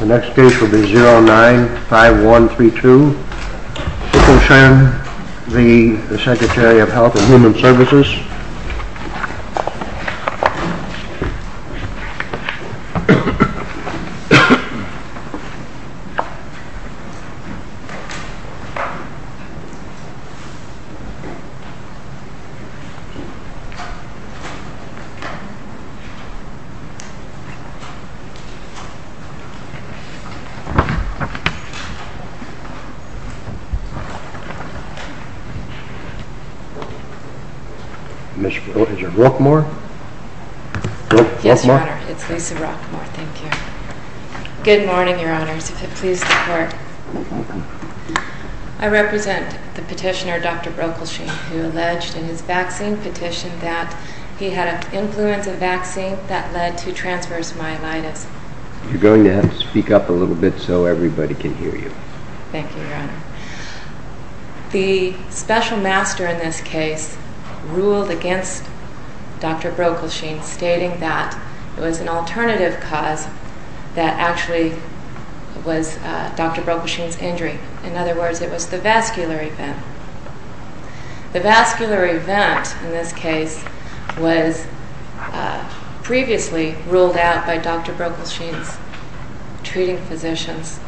The next case will be 09-5132. This will concern the Secretary of Health and Human Services. Ms. Brockmore Yes, Your Honor. It's Lisa Brockmore. Thank you. Good morning, Your Honors. If it please the Court. Good morning. I represent the petitioner, Dr. Broekelschen, who alleged in his vaccine petition that he had an influenza vaccine that led to transverse myelitis. Could you go ahead and speak up a little bit so everybody can hear you? Thank you, Your Honor. The special master in this case ruled against Dr. Broekelschen, stating that it was an alternative cause that actually was Dr. Broekelschen's injury. In other words, it was the vascular event. The vascular event in this case was previously ruled out by Dr. Broekelschen's treating physicians.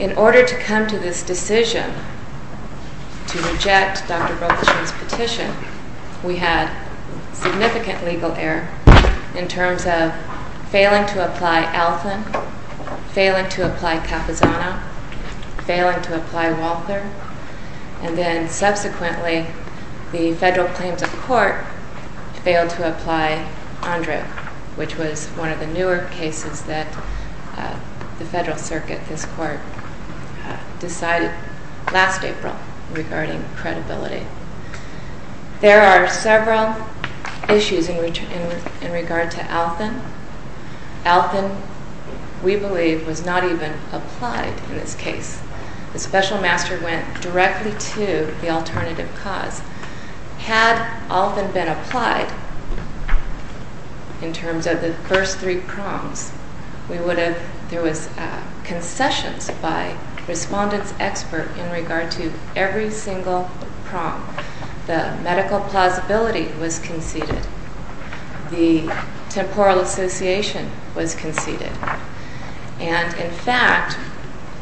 In order to come to this decision to reject Dr. Broekelschen's petition, we had significant legal error in terms of failing to apply Alfin, failing to apply Capizano, failing to apply Walther, and then subsequently the federal claims of the court failed to apply Andrew, which was one of the newer cases that the federal circuit, this court, decided last April regarding credibility. There are several issues in regard to Alfin. Alfin, we believe, was not even applied in this case. The special master went directly to the alternative cause. Had Alfin been applied in terms of the first three prongs, we would have, there was concessions by respondents expert in regard to every single prong. The medical plausibility was conceded. The temporal association was conceded. And, in fact,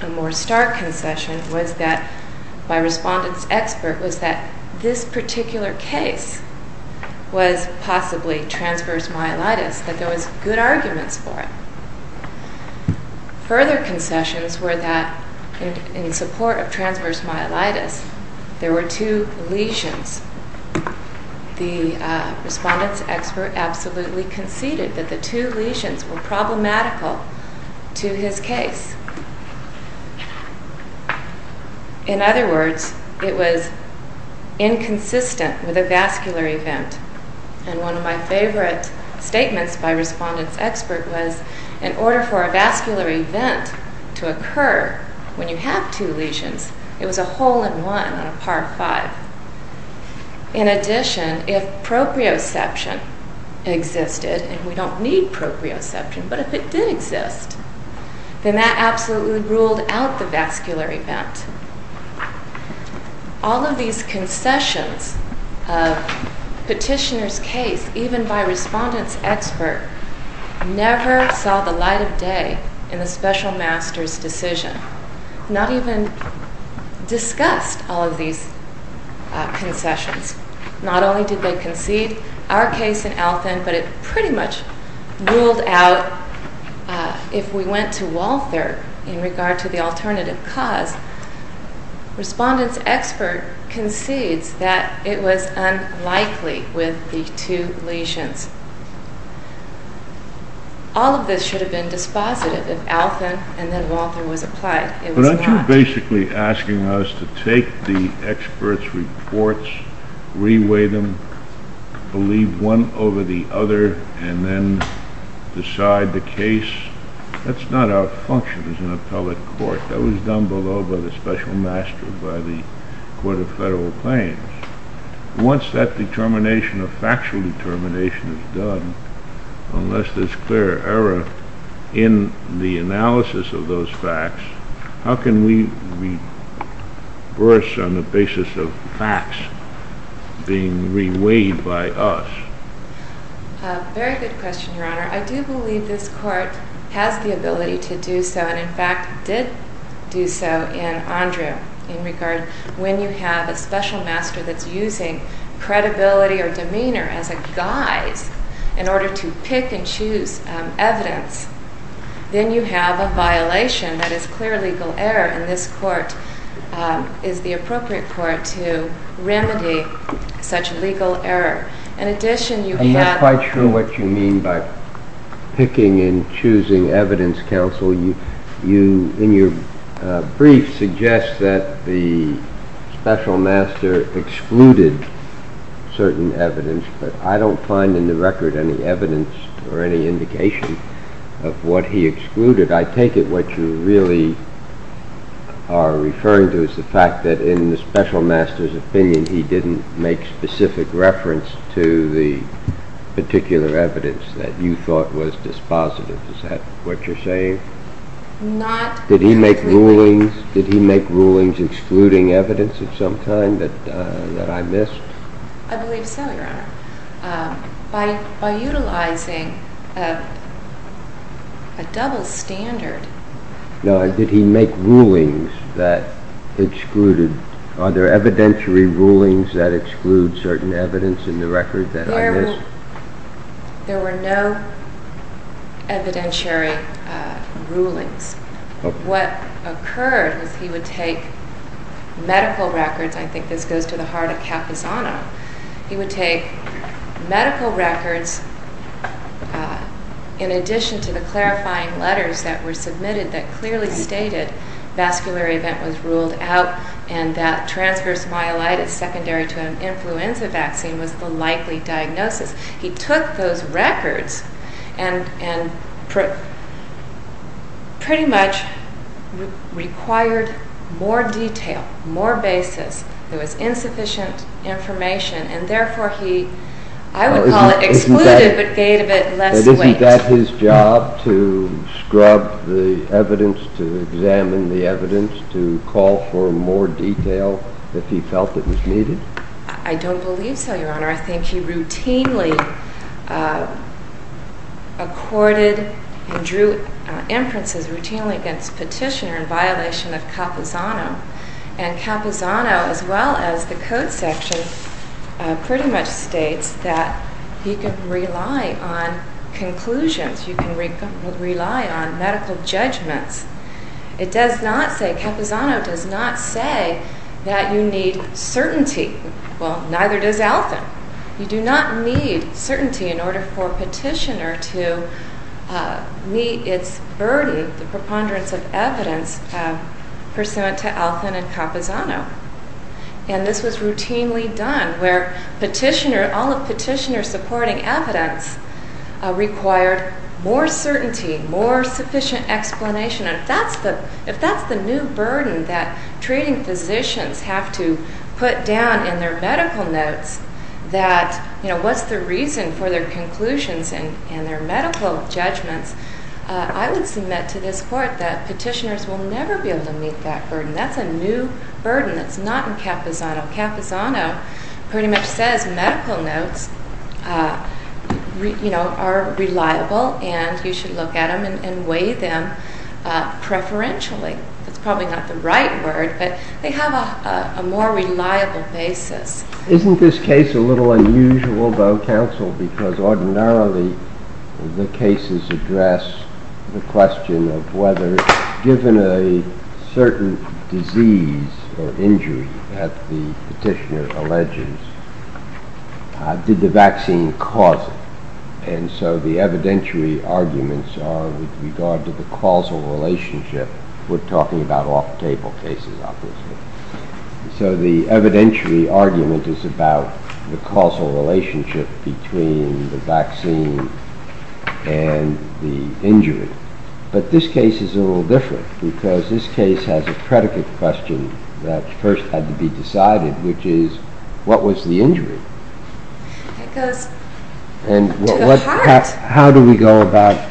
a more stark concession was that, by respondents expert, was that this particular case was possibly transverse myelitis, that there was good arguments for it. Further concessions were that, in support of transverse myelitis, there were two lesions. The respondents expert absolutely conceded that the two lesions were problematical to his case. In other words, it was inconsistent with a vascular event. And one of my favorite statements by respondents expert was, in order for a vascular event to occur when you have two lesions, it was a hole in one on a par five. In addition, if proprioception existed, and we don't need proprioception, but if it did exist, then that absolutely ruled out the vascular event. All of these concessions of petitioner's case, even by respondents expert, never saw the light of day in the special master's decision. Not even discussed all of these concessions. Not only did they concede our case in Althan, but it pretty much ruled out, if we went to Walther, in regard to the alternative cause. Respondents expert concedes that it was unlikely with the two lesions. All of this should have been dispositive if Althan and then Walther was applied. But aren't you basically asking us to take the expert's reports, re-weigh them, believe one over the other, and then decide the case? That's not our function as an appellate court. That was done below by the special master, by the court of federal claims. Once that determination of factual determination is done, unless there's clear error in the analysis of those facts, how can we reverse on the basis of facts being re-weighed by us? Very good question, Your Honor. I do believe this court has the ability to do so, and in fact did do so in Andrew, in regard when you have a special master that's using credibility or demeanor as a guise in order to pick and choose evidence. Then you have a violation that is clear legal error, and this court is the appropriate court to remedy such legal error. I'm not quite sure what you mean by picking and choosing evidence, counsel. In your brief, you suggest that the special master excluded certain evidence, but I don't find in the record any evidence or any indication of what he excluded. I take it what you really are referring to is the fact that in the special master's opinion he didn't make specific reference to the particular evidence that you thought was dispositive. Is that what you're saying? Did he make rulings excluding evidence of some kind that I missed? I believe so, Your Honor. By utilizing a double standard... No, did he make rulings that excluded, are there evidentiary rulings that exclude certain evidence in the record that I missed? There were no evidentiary rulings. What occurred was he would take medical records, I think this goes to the heart of Capizano, he would take medical records in addition to the clarifying letters that were submitted that clearly stated vascular event was ruled out and that transverse myelitis secondary to an influenza vaccine was the likely diagnosis. He took those records and pretty much required more detail, more basis. There was insufficient information and therefore he, I would call it excluded, but gave it less weight. Isn't that his job to scrub the evidence, to examine the evidence, to call for more detail if he felt it was needed? I don't believe so, Your Honor. I think he routinely accorded and drew inferences routinely against petitioner in violation of Capizano. And Capizano, as well as the code section, pretty much states that you can rely on conclusions, you can rely on medical judgments. It does not say, Capizano does not say that you need certainty. Well, neither does Althan. You do not need certainty in order for a petitioner to meet its burden, the preponderance of evidence pursuant to Althan and Capizano. And this was routinely done where petitioner, all of petitioner supporting evidence required more certainty, more sufficient explanation. And if that's the new burden that treating physicians have to put down in their medical notes that, you know, what's the reason for their conclusions and their medical judgments, I would submit to this court that petitioners will never be able to meet that burden. That's a new burden that's not in Capizano. Capizano pretty much says medical notes, you know, are reliable and you should look at them and weigh them preferentially. That's probably not the right word, but they have a more reliable basis. Isn't this case a little unusual, though, counsel, because ordinarily the cases address the question of whether given a certain disease or injury that the petitioner alleges, did the vaccine cause it? And so the evidentiary arguments are with regard to the causal relationship. We're talking about off-table cases, obviously. So the evidentiary argument is about the causal relationship between the vaccine and the injury. But this case is a little different because this case has a predicate question that first had to be decided, which is, what was the injury? And how do we go about,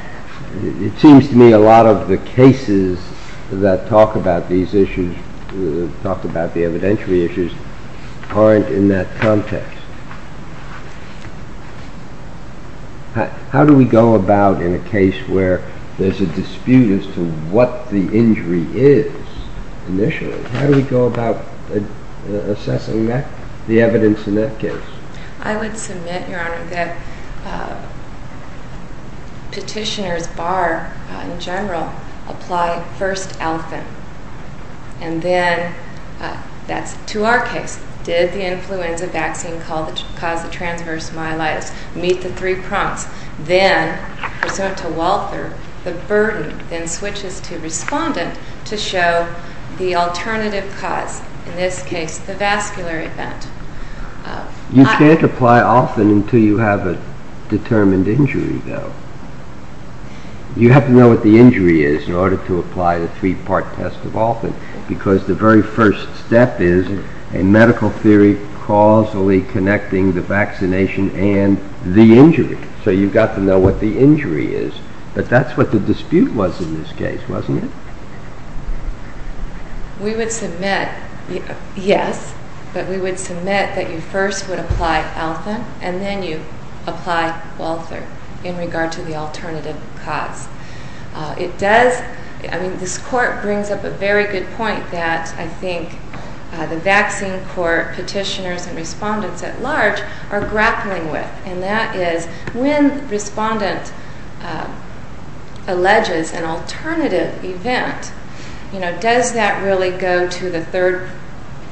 it seems to me a lot of the cases that talk about these issues, talk about the evidentiary issues, aren't in that context. How do we go about in a case where there's a dispute as to what the injury is initially, how do we go about assessing the evidence in that case? I would submit, Your Honor, that petitioners bar, in general, apply first elephant. And then, that's to our case, did the influenza vaccine cause the transverse myelitis? Meet the three prompts. Then, pursuant to Walther, the burden then switches to respondent to show the alternative cause, in this case the vascular event. You can't apply often until you have a determined injury, though. You have to know what the injury is in order to apply the three-part test of often, because the very first step is a medical theory causally connecting the vaccination and the injury. So you've got to know what the injury is. But that's what the dispute was in this case, wasn't it? We would submit, yes, but we would submit that you first would apply often, and then you apply Walther in regard to the alternative cause. It does, I mean, this court brings up a very good point that I think the vaccine court, petitioners, and respondents at large are grappling with. And that is, when respondent alleges an alternative event, does that really go to the third,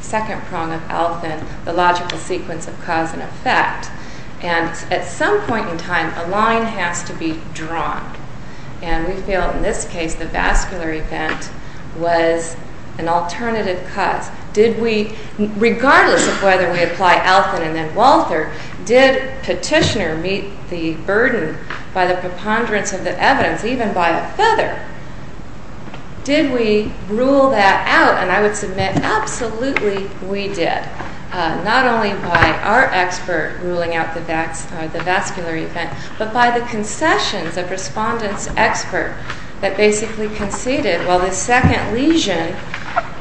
second prong of often, the logical sequence of cause and effect? And at some point in time, a line has to be drawn. And we feel, in this case, the vascular event was an alternative cause. Did we, regardless of whether we apply often and then Walther, did petitioner meet the burden by the preponderance of the evidence, even by a feather? Did we rule that out? And I would submit absolutely we did. Not only by our expert ruling out the vascular event, but by the concessions of respondent's expert that basically conceded, well, the second lesion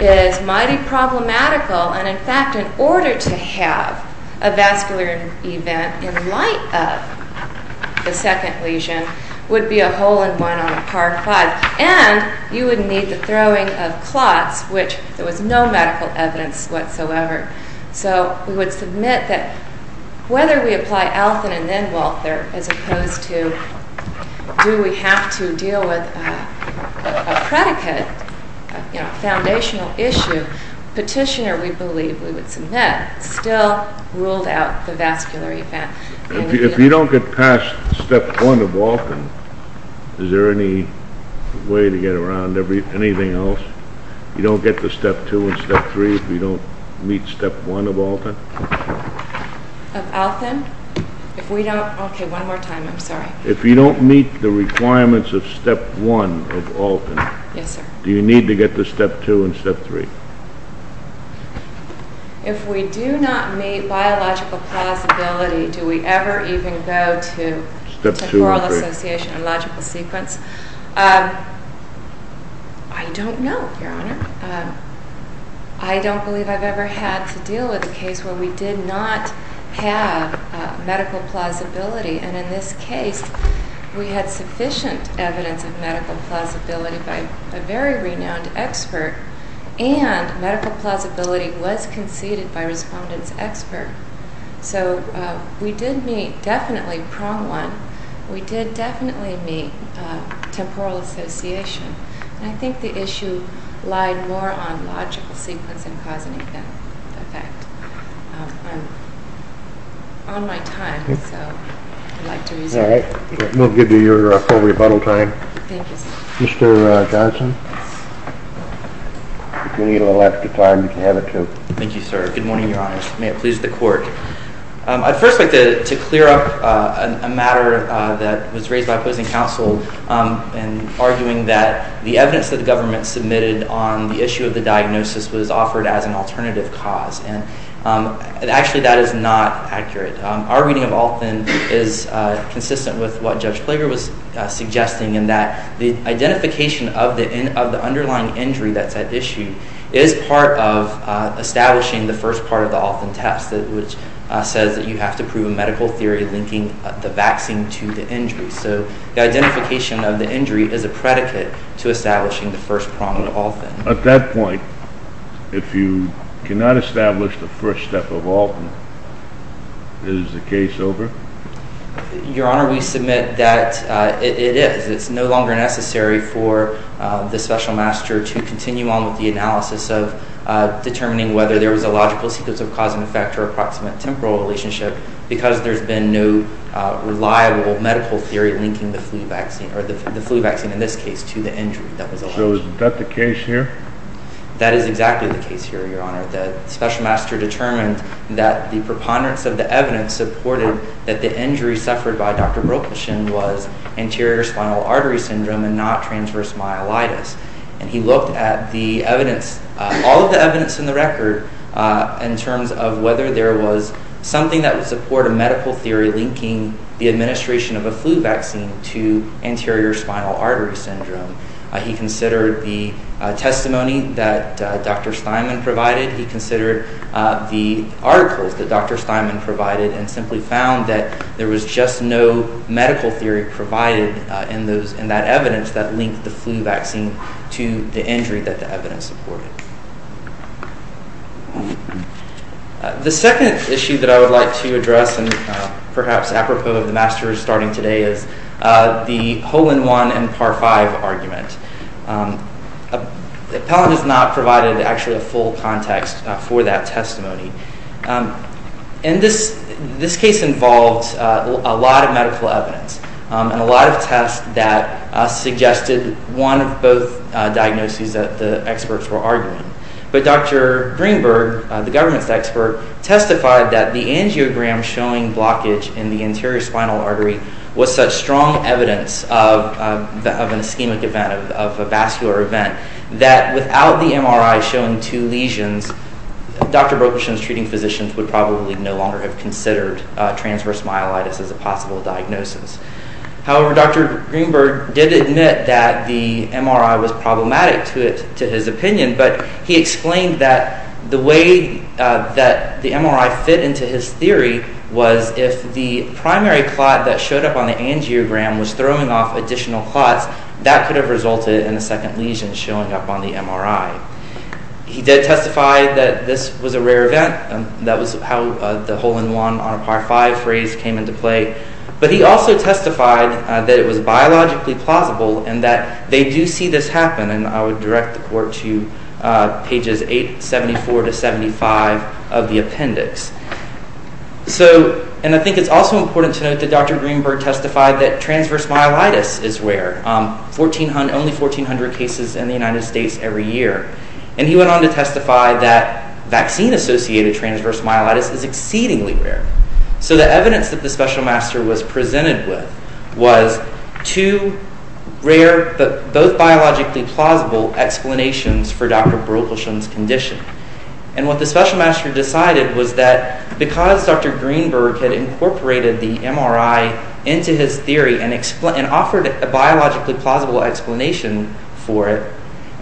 is mighty problematical, and in fact, in order to have a vascular event in light of the second lesion would be a hole in one on a par five. And you would need the throwing of clots, which there was no medical evidence whatsoever. So, we would submit that, whether we apply often and then Walther, as opposed to, do we have to deal with a predicate, a foundational issue, petitioner, we believe, we would submit, still ruled out the vascular event. If you don't get past step one of Alton, is there any way to get around anything else? You don't get to step two and step three if you don't meet step one of Alton? Of Alton? If we don't, okay, one more time, I'm sorry. If you don't meet the requirements of step one of Alton, do you need to get to step two and step three? If we do not meet biological plausibility, do we ever even go to temporal association and logical sequence? I don't know, Your Honor. I don't believe I've ever had to deal with a case where we did not have medical plausibility, and in this case, we had sufficient evidence of medical plausibility by a very renowned expert, and medical plausibility was conceded by a respondents expert. So, we did meet, definitely, prong one. We did definitely meet temporal association. And I think the issue lied more on logical sequence and cause and effect. I'm on my time, so I'd like to reserve it. All right, we'll give you your full rebuttal time. Thank you, sir. Mr. Johnson? If you need a little extra time, you can have it, too. Thank you, sir. Good morning, Your Honors. May it please the Court. I'd first like to clear up a matter that was raised by opposing counsel in arguing that the evidence that the government submitted on the issue of the diagnosis was offered as an alternative cause. Actually, that is not accurate. Our reading of Althann is consistent with what Judge Plager was suggesting in that the identification of the underlying injury that's at issue is part of establishing the first part of the Althann test, which says that you have to prove a medical theory linking the vaccine to the injury. So, the identification of the injury is a predicate to establishing the first prong of Althann. At that point, if you cannot establish the first step of Althann, is the case over? Your Honor, we submit that it is. It's no longer necessary for the Special Master to continue on with the analysis of determining whether there was a logical sequence of cause and effect or approximate temporal relationship because there's been no reliable medical theory linking the flu vaccine, or the flu vaccine in this case, to the injury that was alleged. So, is that the case here? That is exactly the case here, Your Honor. The Special Master determined that the preponderance of the evidence supported that the injury suffered by Dr. Brokoshin was anterior spinal artery syndrome and not transverse myelitis. And he looked at the evidence, all of the evidence in the record, in terms of whether there was something that would support a medical theory linking the administration of a flu vaccine to anterior spinal artery syndrome. He considered the testimony that Dr. Steinman provided. He considered the articles that Dr. Steinman provided and simply found that there was just no medical theory provided in that evidence that linked the flu vaccine to the injury that the evidence supported. The second issue that I would like to address, and perhaps apropos of the Masters starting today, is the whole-in-one and par-five argument. Appellant has not provided, actually, a full context for that testimony. And this case involved a lot of medical evidence and a lot of tests that suggested one of both diagnoses that the experts were arguing. But Dr. Greenberg, the government's expert, testified that the angiogram showing blockage in the anterior spinal artery was such strong evidence of an ischemic event, of a vascular event, that without the MRI showing two lesions, Dr. Brokoshin's treating physicians would probably no longer have considered transverse myelitis as a possible diagnosis. However, Dr. Greenberg did admit that the MRI was problematic to his opinion, but he explained that the way that the MRI fit into his theory was if the primary clot that showed up on the angiogram was throwing off additional clots, that could have resulted in a second lesion showing up on the MRI. He did testify that this was a rare event, and that was how the whole-in-one and par-five phrase came into play. But he also testified that it was biologically plausible and that they do see this happen, and I would direct the court to pages 874-75 of the appendix. And I think it's also important to note that Dr. Greenberg testified that transverse myelitis is rare, only 1,400 cases in the United States every year. And he went on to testify that vaccine-associated transverse myelitis is exceedingly rare. So the evidence that the special master was presented with was two rare but both biologically plausible explanations for Dr. Brokoshin's condition. And what the special master decided was that because Dr. Greenberg had incorporated the MRI into his theory and offered a biologically plausible explanation for it,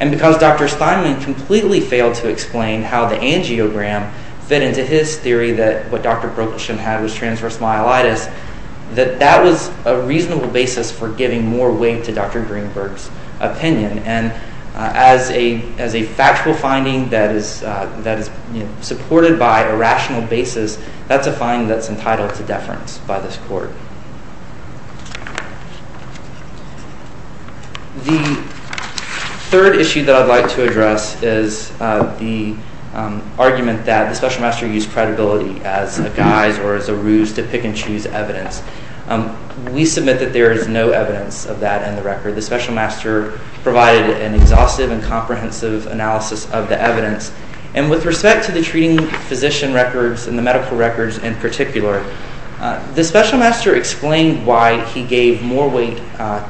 and because Dr. Steinle completely failed to explain how the angiogram fit into his theory that what Dr. Brokoshin had was transverse myelitis, that that was a reasonable basis for giving more weight to Dr. Greenberg's opinion. And as a factual finding that is supported by a rational basis, that's a finding that's entitled to deference by this court. The third issue that I'd like to address is the argument that the special master used credibility as a guise or as a ruse to pick and choose evidence. We submit that there is no evidence of that in the record. The special master provided an exhaustive and comprehensive analysis of the evidence. And with respect to the treating physician records and the medical records in particular, the special master explained why he gave more weight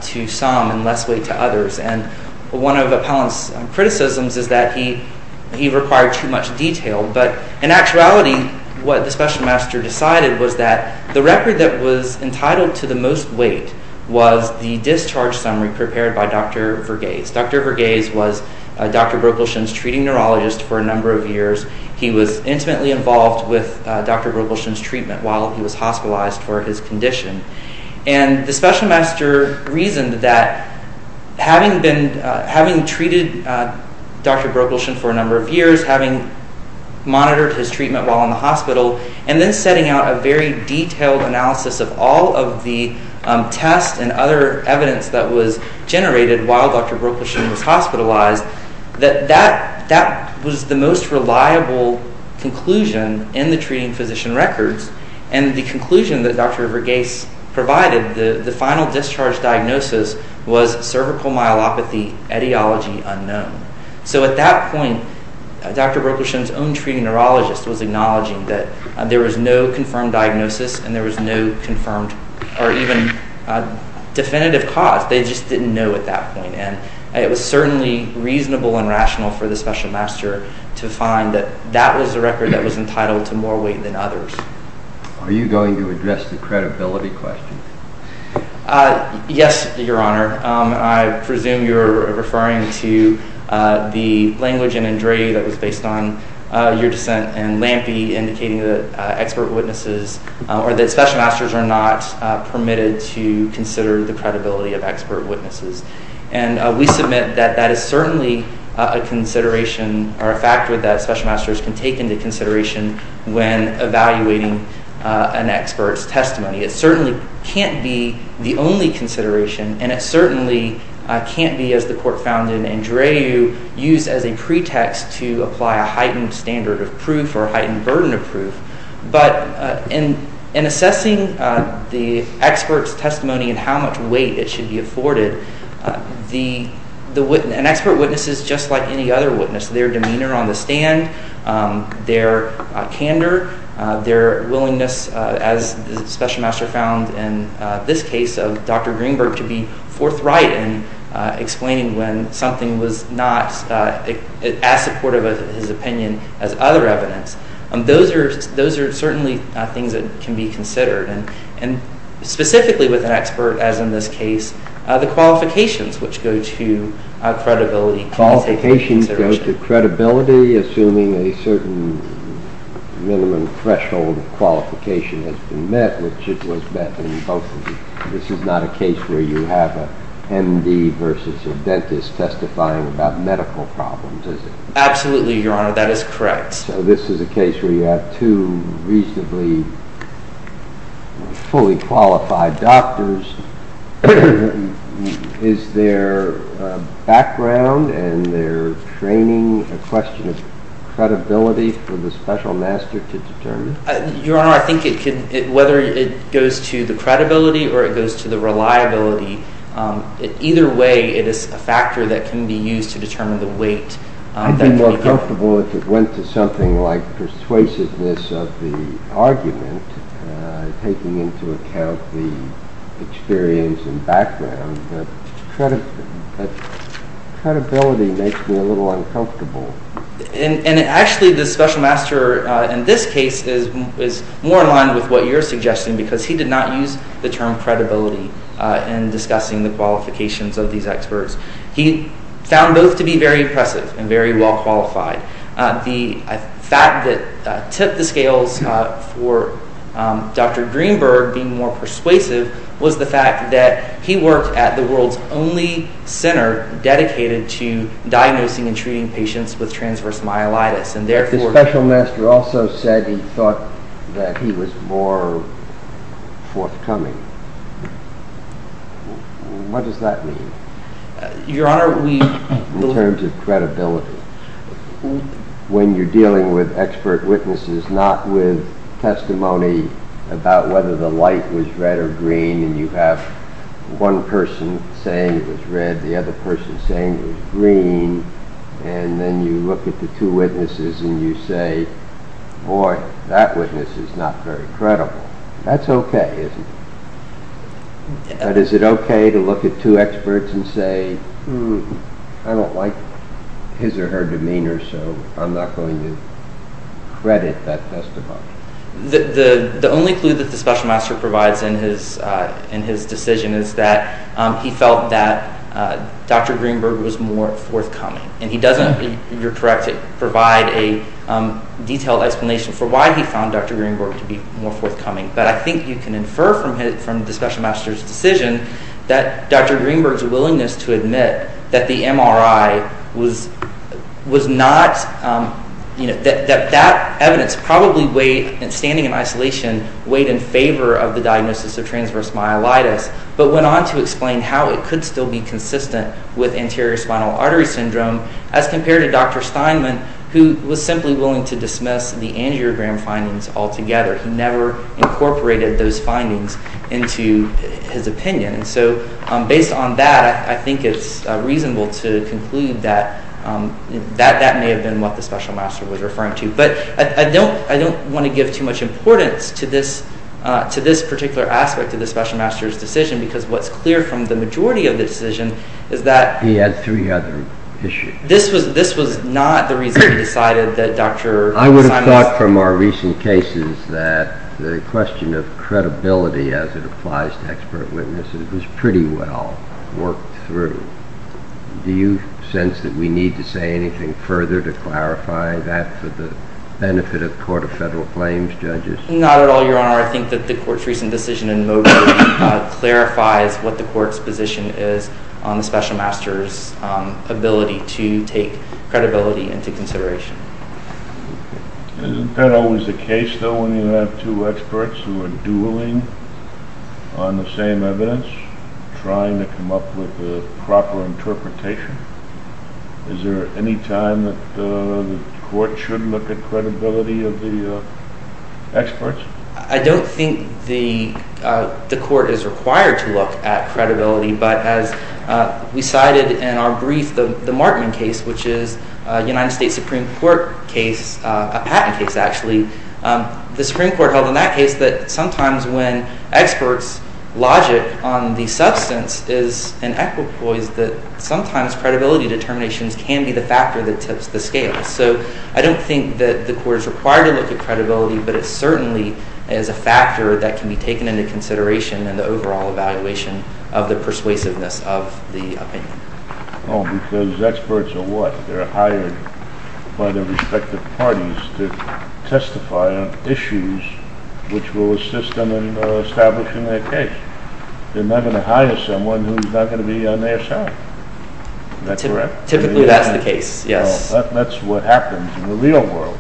to some and less weight to others. And one of Appellant's criticisms is that he required too much detail. But in actuality, what the special master decided was that the record that was entitled to the most weight was the discharge summary prepared by Dr. Verghese. Dr. Verghese was Dr. Brokoshin's treating neurologist for a number of years. He was intimately involved with Dr. Brokoshin's treatment while he was hospitalized for his condition. And the special master reasoned that having treated Dr. Brokoshin for a number of years, having monitored his treatment while in the hospital, and then setting out a very detailed analysis of all of the tests and other evidence that was generated while Dr. Brokoshin was hospitalized, that that was the most reliable conclusion in the treating physician records. And the conclusion that Dr. Verghese provided, the final discharge diagnosis, was cervical myelopathy etiology unknown. So at that point, Dr. Brokoshin's own treating neurologist was acknowledging that there was no confirmed diagnosis and there was no confirmed or even definitive cause. They just didn't know at that point. And it was certainly reasonable and rational for the special master to find that that was the record that was entitled to more weight than others. Are you going to address the credibility question? Yes, Your Honor. I presume you're referring to the language in Andrei that was based on your dissent and Lampe indicating that expert witnesses or that special masters are not permitted to consider the credibility of expert witnesses. And we submit that that is certainly a consideration or a factor that special masters can take into consideration when evaluating an expert's testimony. It certainly can't be the only consideration, and it certainly can't be, as the court found in Andreu, used as a pretext to apply a heightened standard of proof or a heightened burden of proof. But in assessing the expert's testimony and how much weight it should be afforded, an expert witness is just like any other witness, their demeanor on the stand, their candor, their willingness, as the special master found in this case of Dr. Greenberg, to be forthright in explaining when something was not as supportive of his opinion as other evidence. Those are certainly things that can be considered. And specifically with an expert, as in this case, the qualifications which go to credibility can be taken into consideration. Qualifications go to credibility, assuming a certain minimum threshold of qualification has been met, which it was met in both cases. This is not a case where you have an MD versus a dentist testifying about medical problems, is it? Absolutely, Your Honor. That is correct. So this is a case where you have two reasonably fully qualified doctors. Is their background and their training a question of credibility for the special master to determine? Your Honor, I think whether it goes to the credibility or it goes to the reliability, either way it is a factor that can be used to determine the weight. I'd be more comfortable if it went to something like persuasiveness of the argument, taking into account the experience and background, but credibility makes me a little uncomfortable. And actually the special master in this case is more in line with what you're suggesting because he did not use the term credibility in discussing the qualifications of these experts. He found both to be very impressive and very well qualified. The fact that tip the scales for Dr. Greenberg being more persuasive was the fact that he worked at the world's only center dedicated to diagnosing and treating patients with transverse myelitis. The special master also said he thought that he was more forthcoming. What does that mean in terms of credibility? When you're dealing with expert witnesses, not with testimony about whether the light was red or green and you have one person saying it was red, the other person saying it was green, and then you look at the two witnesses and you say, boy, that witness is not very credible. That's okay, isn't it? But is it okay to look at two experts and say, I don't like his or her demeanor, so I'm not going to credit that testimony? The only clue that the special master provides in his decision is that he felt that Dr. Greenberg was more forthcoming. And he doesn't, you're correct, provide a detailed explanation for why he found Dr. Greenberg to be more forthcoming. But I think you can infer from the special master's decision that Dr. Greenberg's willingness to admit that the MRI was not, that that evidence probably weighed, standing in isolation, weighed in favor of the diagnosis of transverse myelitis, but went on to explain how it could still be consistent with anterior spinal artery syndrome as compared to Dr. Steinman, who was simply willing to dismiss the angiogram findings altogether. He never incorporated those findings into his opinion. And so based on that, I think it's reasonable to conclude that that may have been what the special master was referring to. But I don't want to give too much importance to this particular aspect of the special master's decision, because what's clear from the majority of the decision is that... He had three other issues. This was not the reason he decided that Dr. Steinman... I would have thought from our recent cases that the question of credibility, as it applies to expert witnesses, was pretty well worked through. Do you sense that we need to say anything further to clarify that for the benefit of the Court of Federal Claims judges? Not at all, Your Honor. I think that the Court's recent decision in Mobray clarifies what the Court's position is on the special master's ability to take credibility into consideration. Isn't that always the case, though, when you have two experts who are dueling on the same evidence, trying to come up with a proper interpretation? Is there any time that the Court should look at credibility of the experts? I don't think the Court is required to look at credibility, but as we cited in our brief, the Markman case, which is a United States Supreme Court case, a patent case, actually, the Supreme Court held in that case that sometimes when experts' logic on the substance is in equipoise, that sometimes credibility determinations can be the factor that tips the scale. So I don't think that the Court is required to look at credibility, but it certainly is a factor that can be taken into consideration in the overall evaluation of the persuasiveness of the opinion. Oh, because experts are what? They're hired by their respective parties to testify on issues which will assist them in establishing their case. They're not going to hire someone who's not going to be on their side. Typically, that's the case, yes. Well, that's what happens in the real world.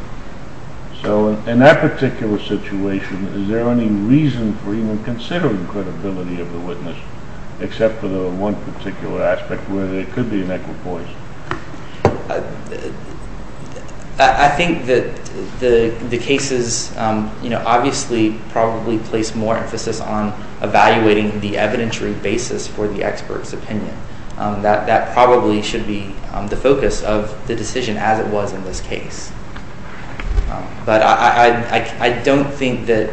So in that particular situation, is there any reason for even considering credibility of the witness, except for the one particular aspect where there could be an equipoise? I think that the cases obviously probably place more emphasis on evaluating the evidentiary basis for the expert's opinion. That probably should be the focus of the decision, as it was in this case. But I don't think that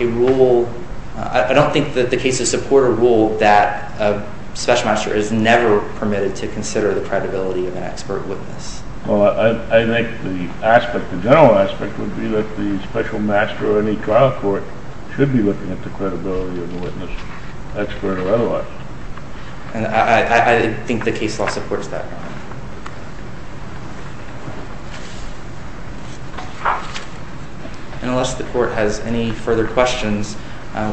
a rule—I don't think that the cases support a rule that a special master is never permitted to consider the credibility of an expert witness. Well, I think the aspect, the general aspect, would be that the special master or any trial court should be looking at the credibility of the witness, expert or otherwise. And I think the case law supports that. And unless the court has any further questions,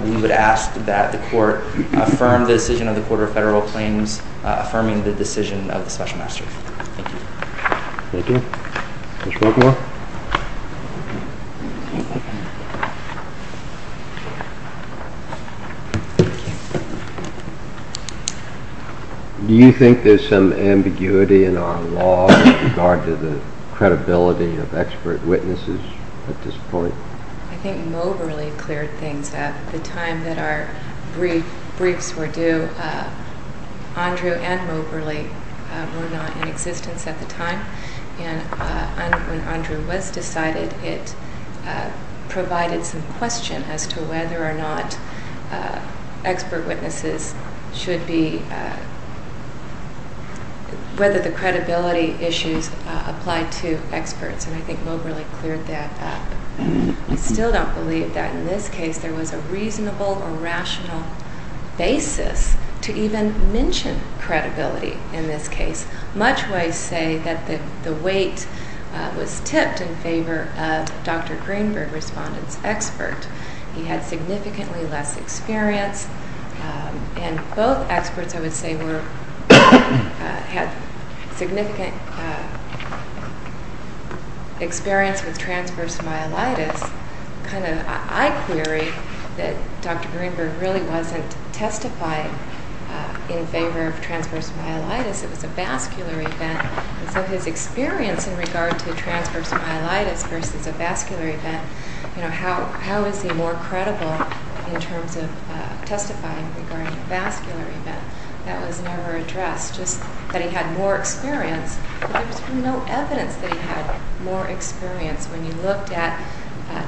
we would ask that the court affirm the decision of the Court of Federal Claims, affirming the decision of the special master. Thank you. Thank you. Mr. Buckmore? Do you think there's some ambiguity in our law with regard to the credibility of expert witnesses at this point? I think Moberly cleared things up. At the time that our briefs were due, Andrew and Moberly were not in existence at the time. And when Andrew was decided, it provided some question as to whether or not expert witnesses should be—whether the credibility issues apply to experts. And I think Moberly cleared that up. I still don't believe that in this case there was a reasonable or rational basis to even mention credibility in this case. Much why I say that the weight was tipped in favor of Dr. Greenberg, respondent's expert. He had significantly less experience. And both experts, I would say, were—had significant experience with transverse myelitis. I query that Dr. Greenberg really wasn't testifying in favor of transverse myelitis. It was a vascular event. So his experience in regard to transverse myelitis versus a vascular event, you know, how is he more credible in terms of testifying regarding a vascular event? That was never addressed. Just that he had more experience. But there was no evidence that he had more experience when you looked at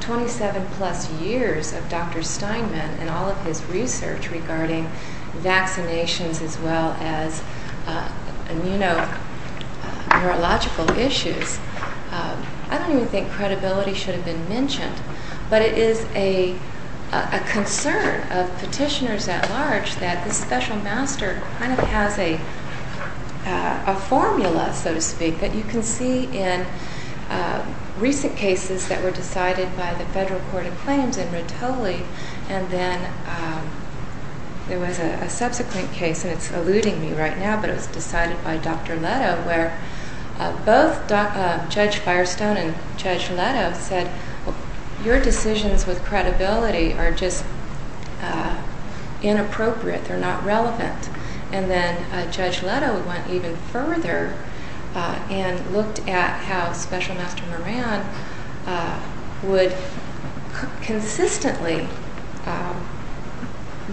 27-plus years of Dr. Steinman and all of his research regarding vaccinations as well as immuno-neurological issues. I don't even think credibility should have been mentioned. But it is a concern of petitioners at large that this special master kind of has a formula, so to speak, that you can see in recent cases that were decided by the Federal Court of Claims in Rotoli. And then there was a subsequent case, and it's eluding me right now, but it was decided by Dr. Leto where both Judge Firestone and Judge Leto said, your decisions with credibility are just inappropriate. They're not relevant. And then Judge Leto went even further and looked at how Special Master Moran would consistently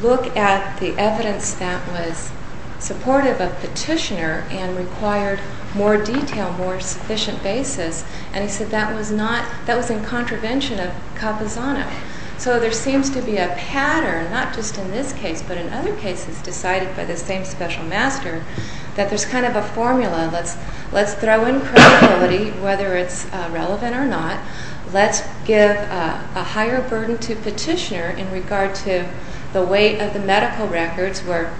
look at the evidence that was supportive of petitioner and required more detail, more sufficient basis. And he said that was in contravention of Capizano. So there seems to be a pattern, not just in this case but in other cases decided by the same special master, that there's kind of a formula. Let's throw in credibility, whether it's relevant or not. Let's give a higher burden to petitioner in regard to the weight of the medical records where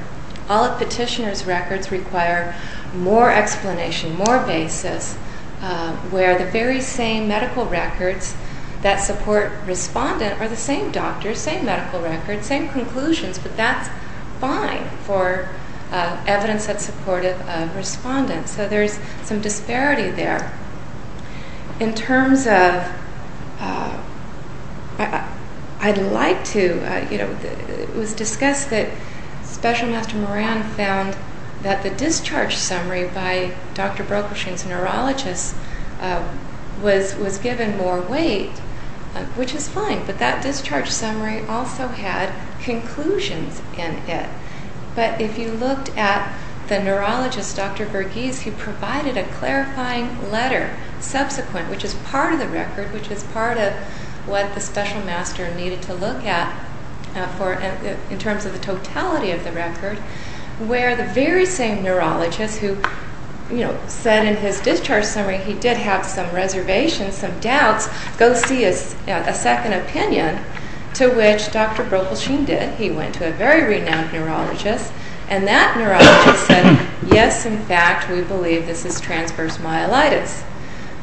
all of petitioner's records require more explanation, more basis, where the very same medical records that support respondent are the same doctors, same medical records, same conclusions. But that's fine for evidence that's supportive of respondent. So there's some disparity there. In terms of, I'd like to, you know, it was discussed that Special Master Moran found that the discharge summary by Dr. Brokerstein's neurologist was given more weight, which is fine. But that discharge summary also had conclusions in it. But if you looked at the neurologist, Dr. Verghese, who provided a clarifying letter subsequent, which is part of the record, which is part of what the special master needed to look at in terms of the totality of the record, where the very same neurologist who, you know, said in his discharge summary he did have some reservations, some doubts, go see a second opinion, to which Dr. Brokerstein did. He went to a very renowned neurologist, and that neurologist said, yes, in fact, we believe this is transverse myelitis.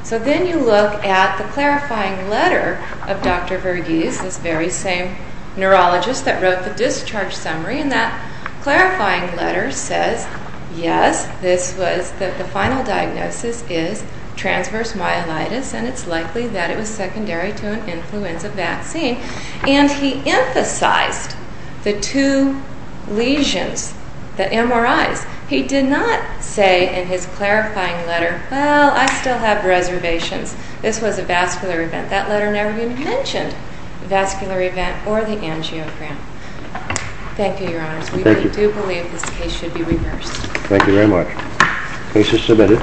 So then you look at the clarifying letter of Dr. Verghese, this very same neurologist that wrote the discharge summary, and that clarifying letter says, yes, this was, the final diagnosis is transverse myelitis, and it's likely that it was secondary to an influenza vaccine. And he emphasized the two lesions, the MRIs. He did not say in his clarifying letter, well, I still have reservations. This was a vascular event. But that letter never even mentioned the vascular event or the angiogram. Thank you, Your Honors. We do believe this case should be reversed. Thank you very much. Case is submitted.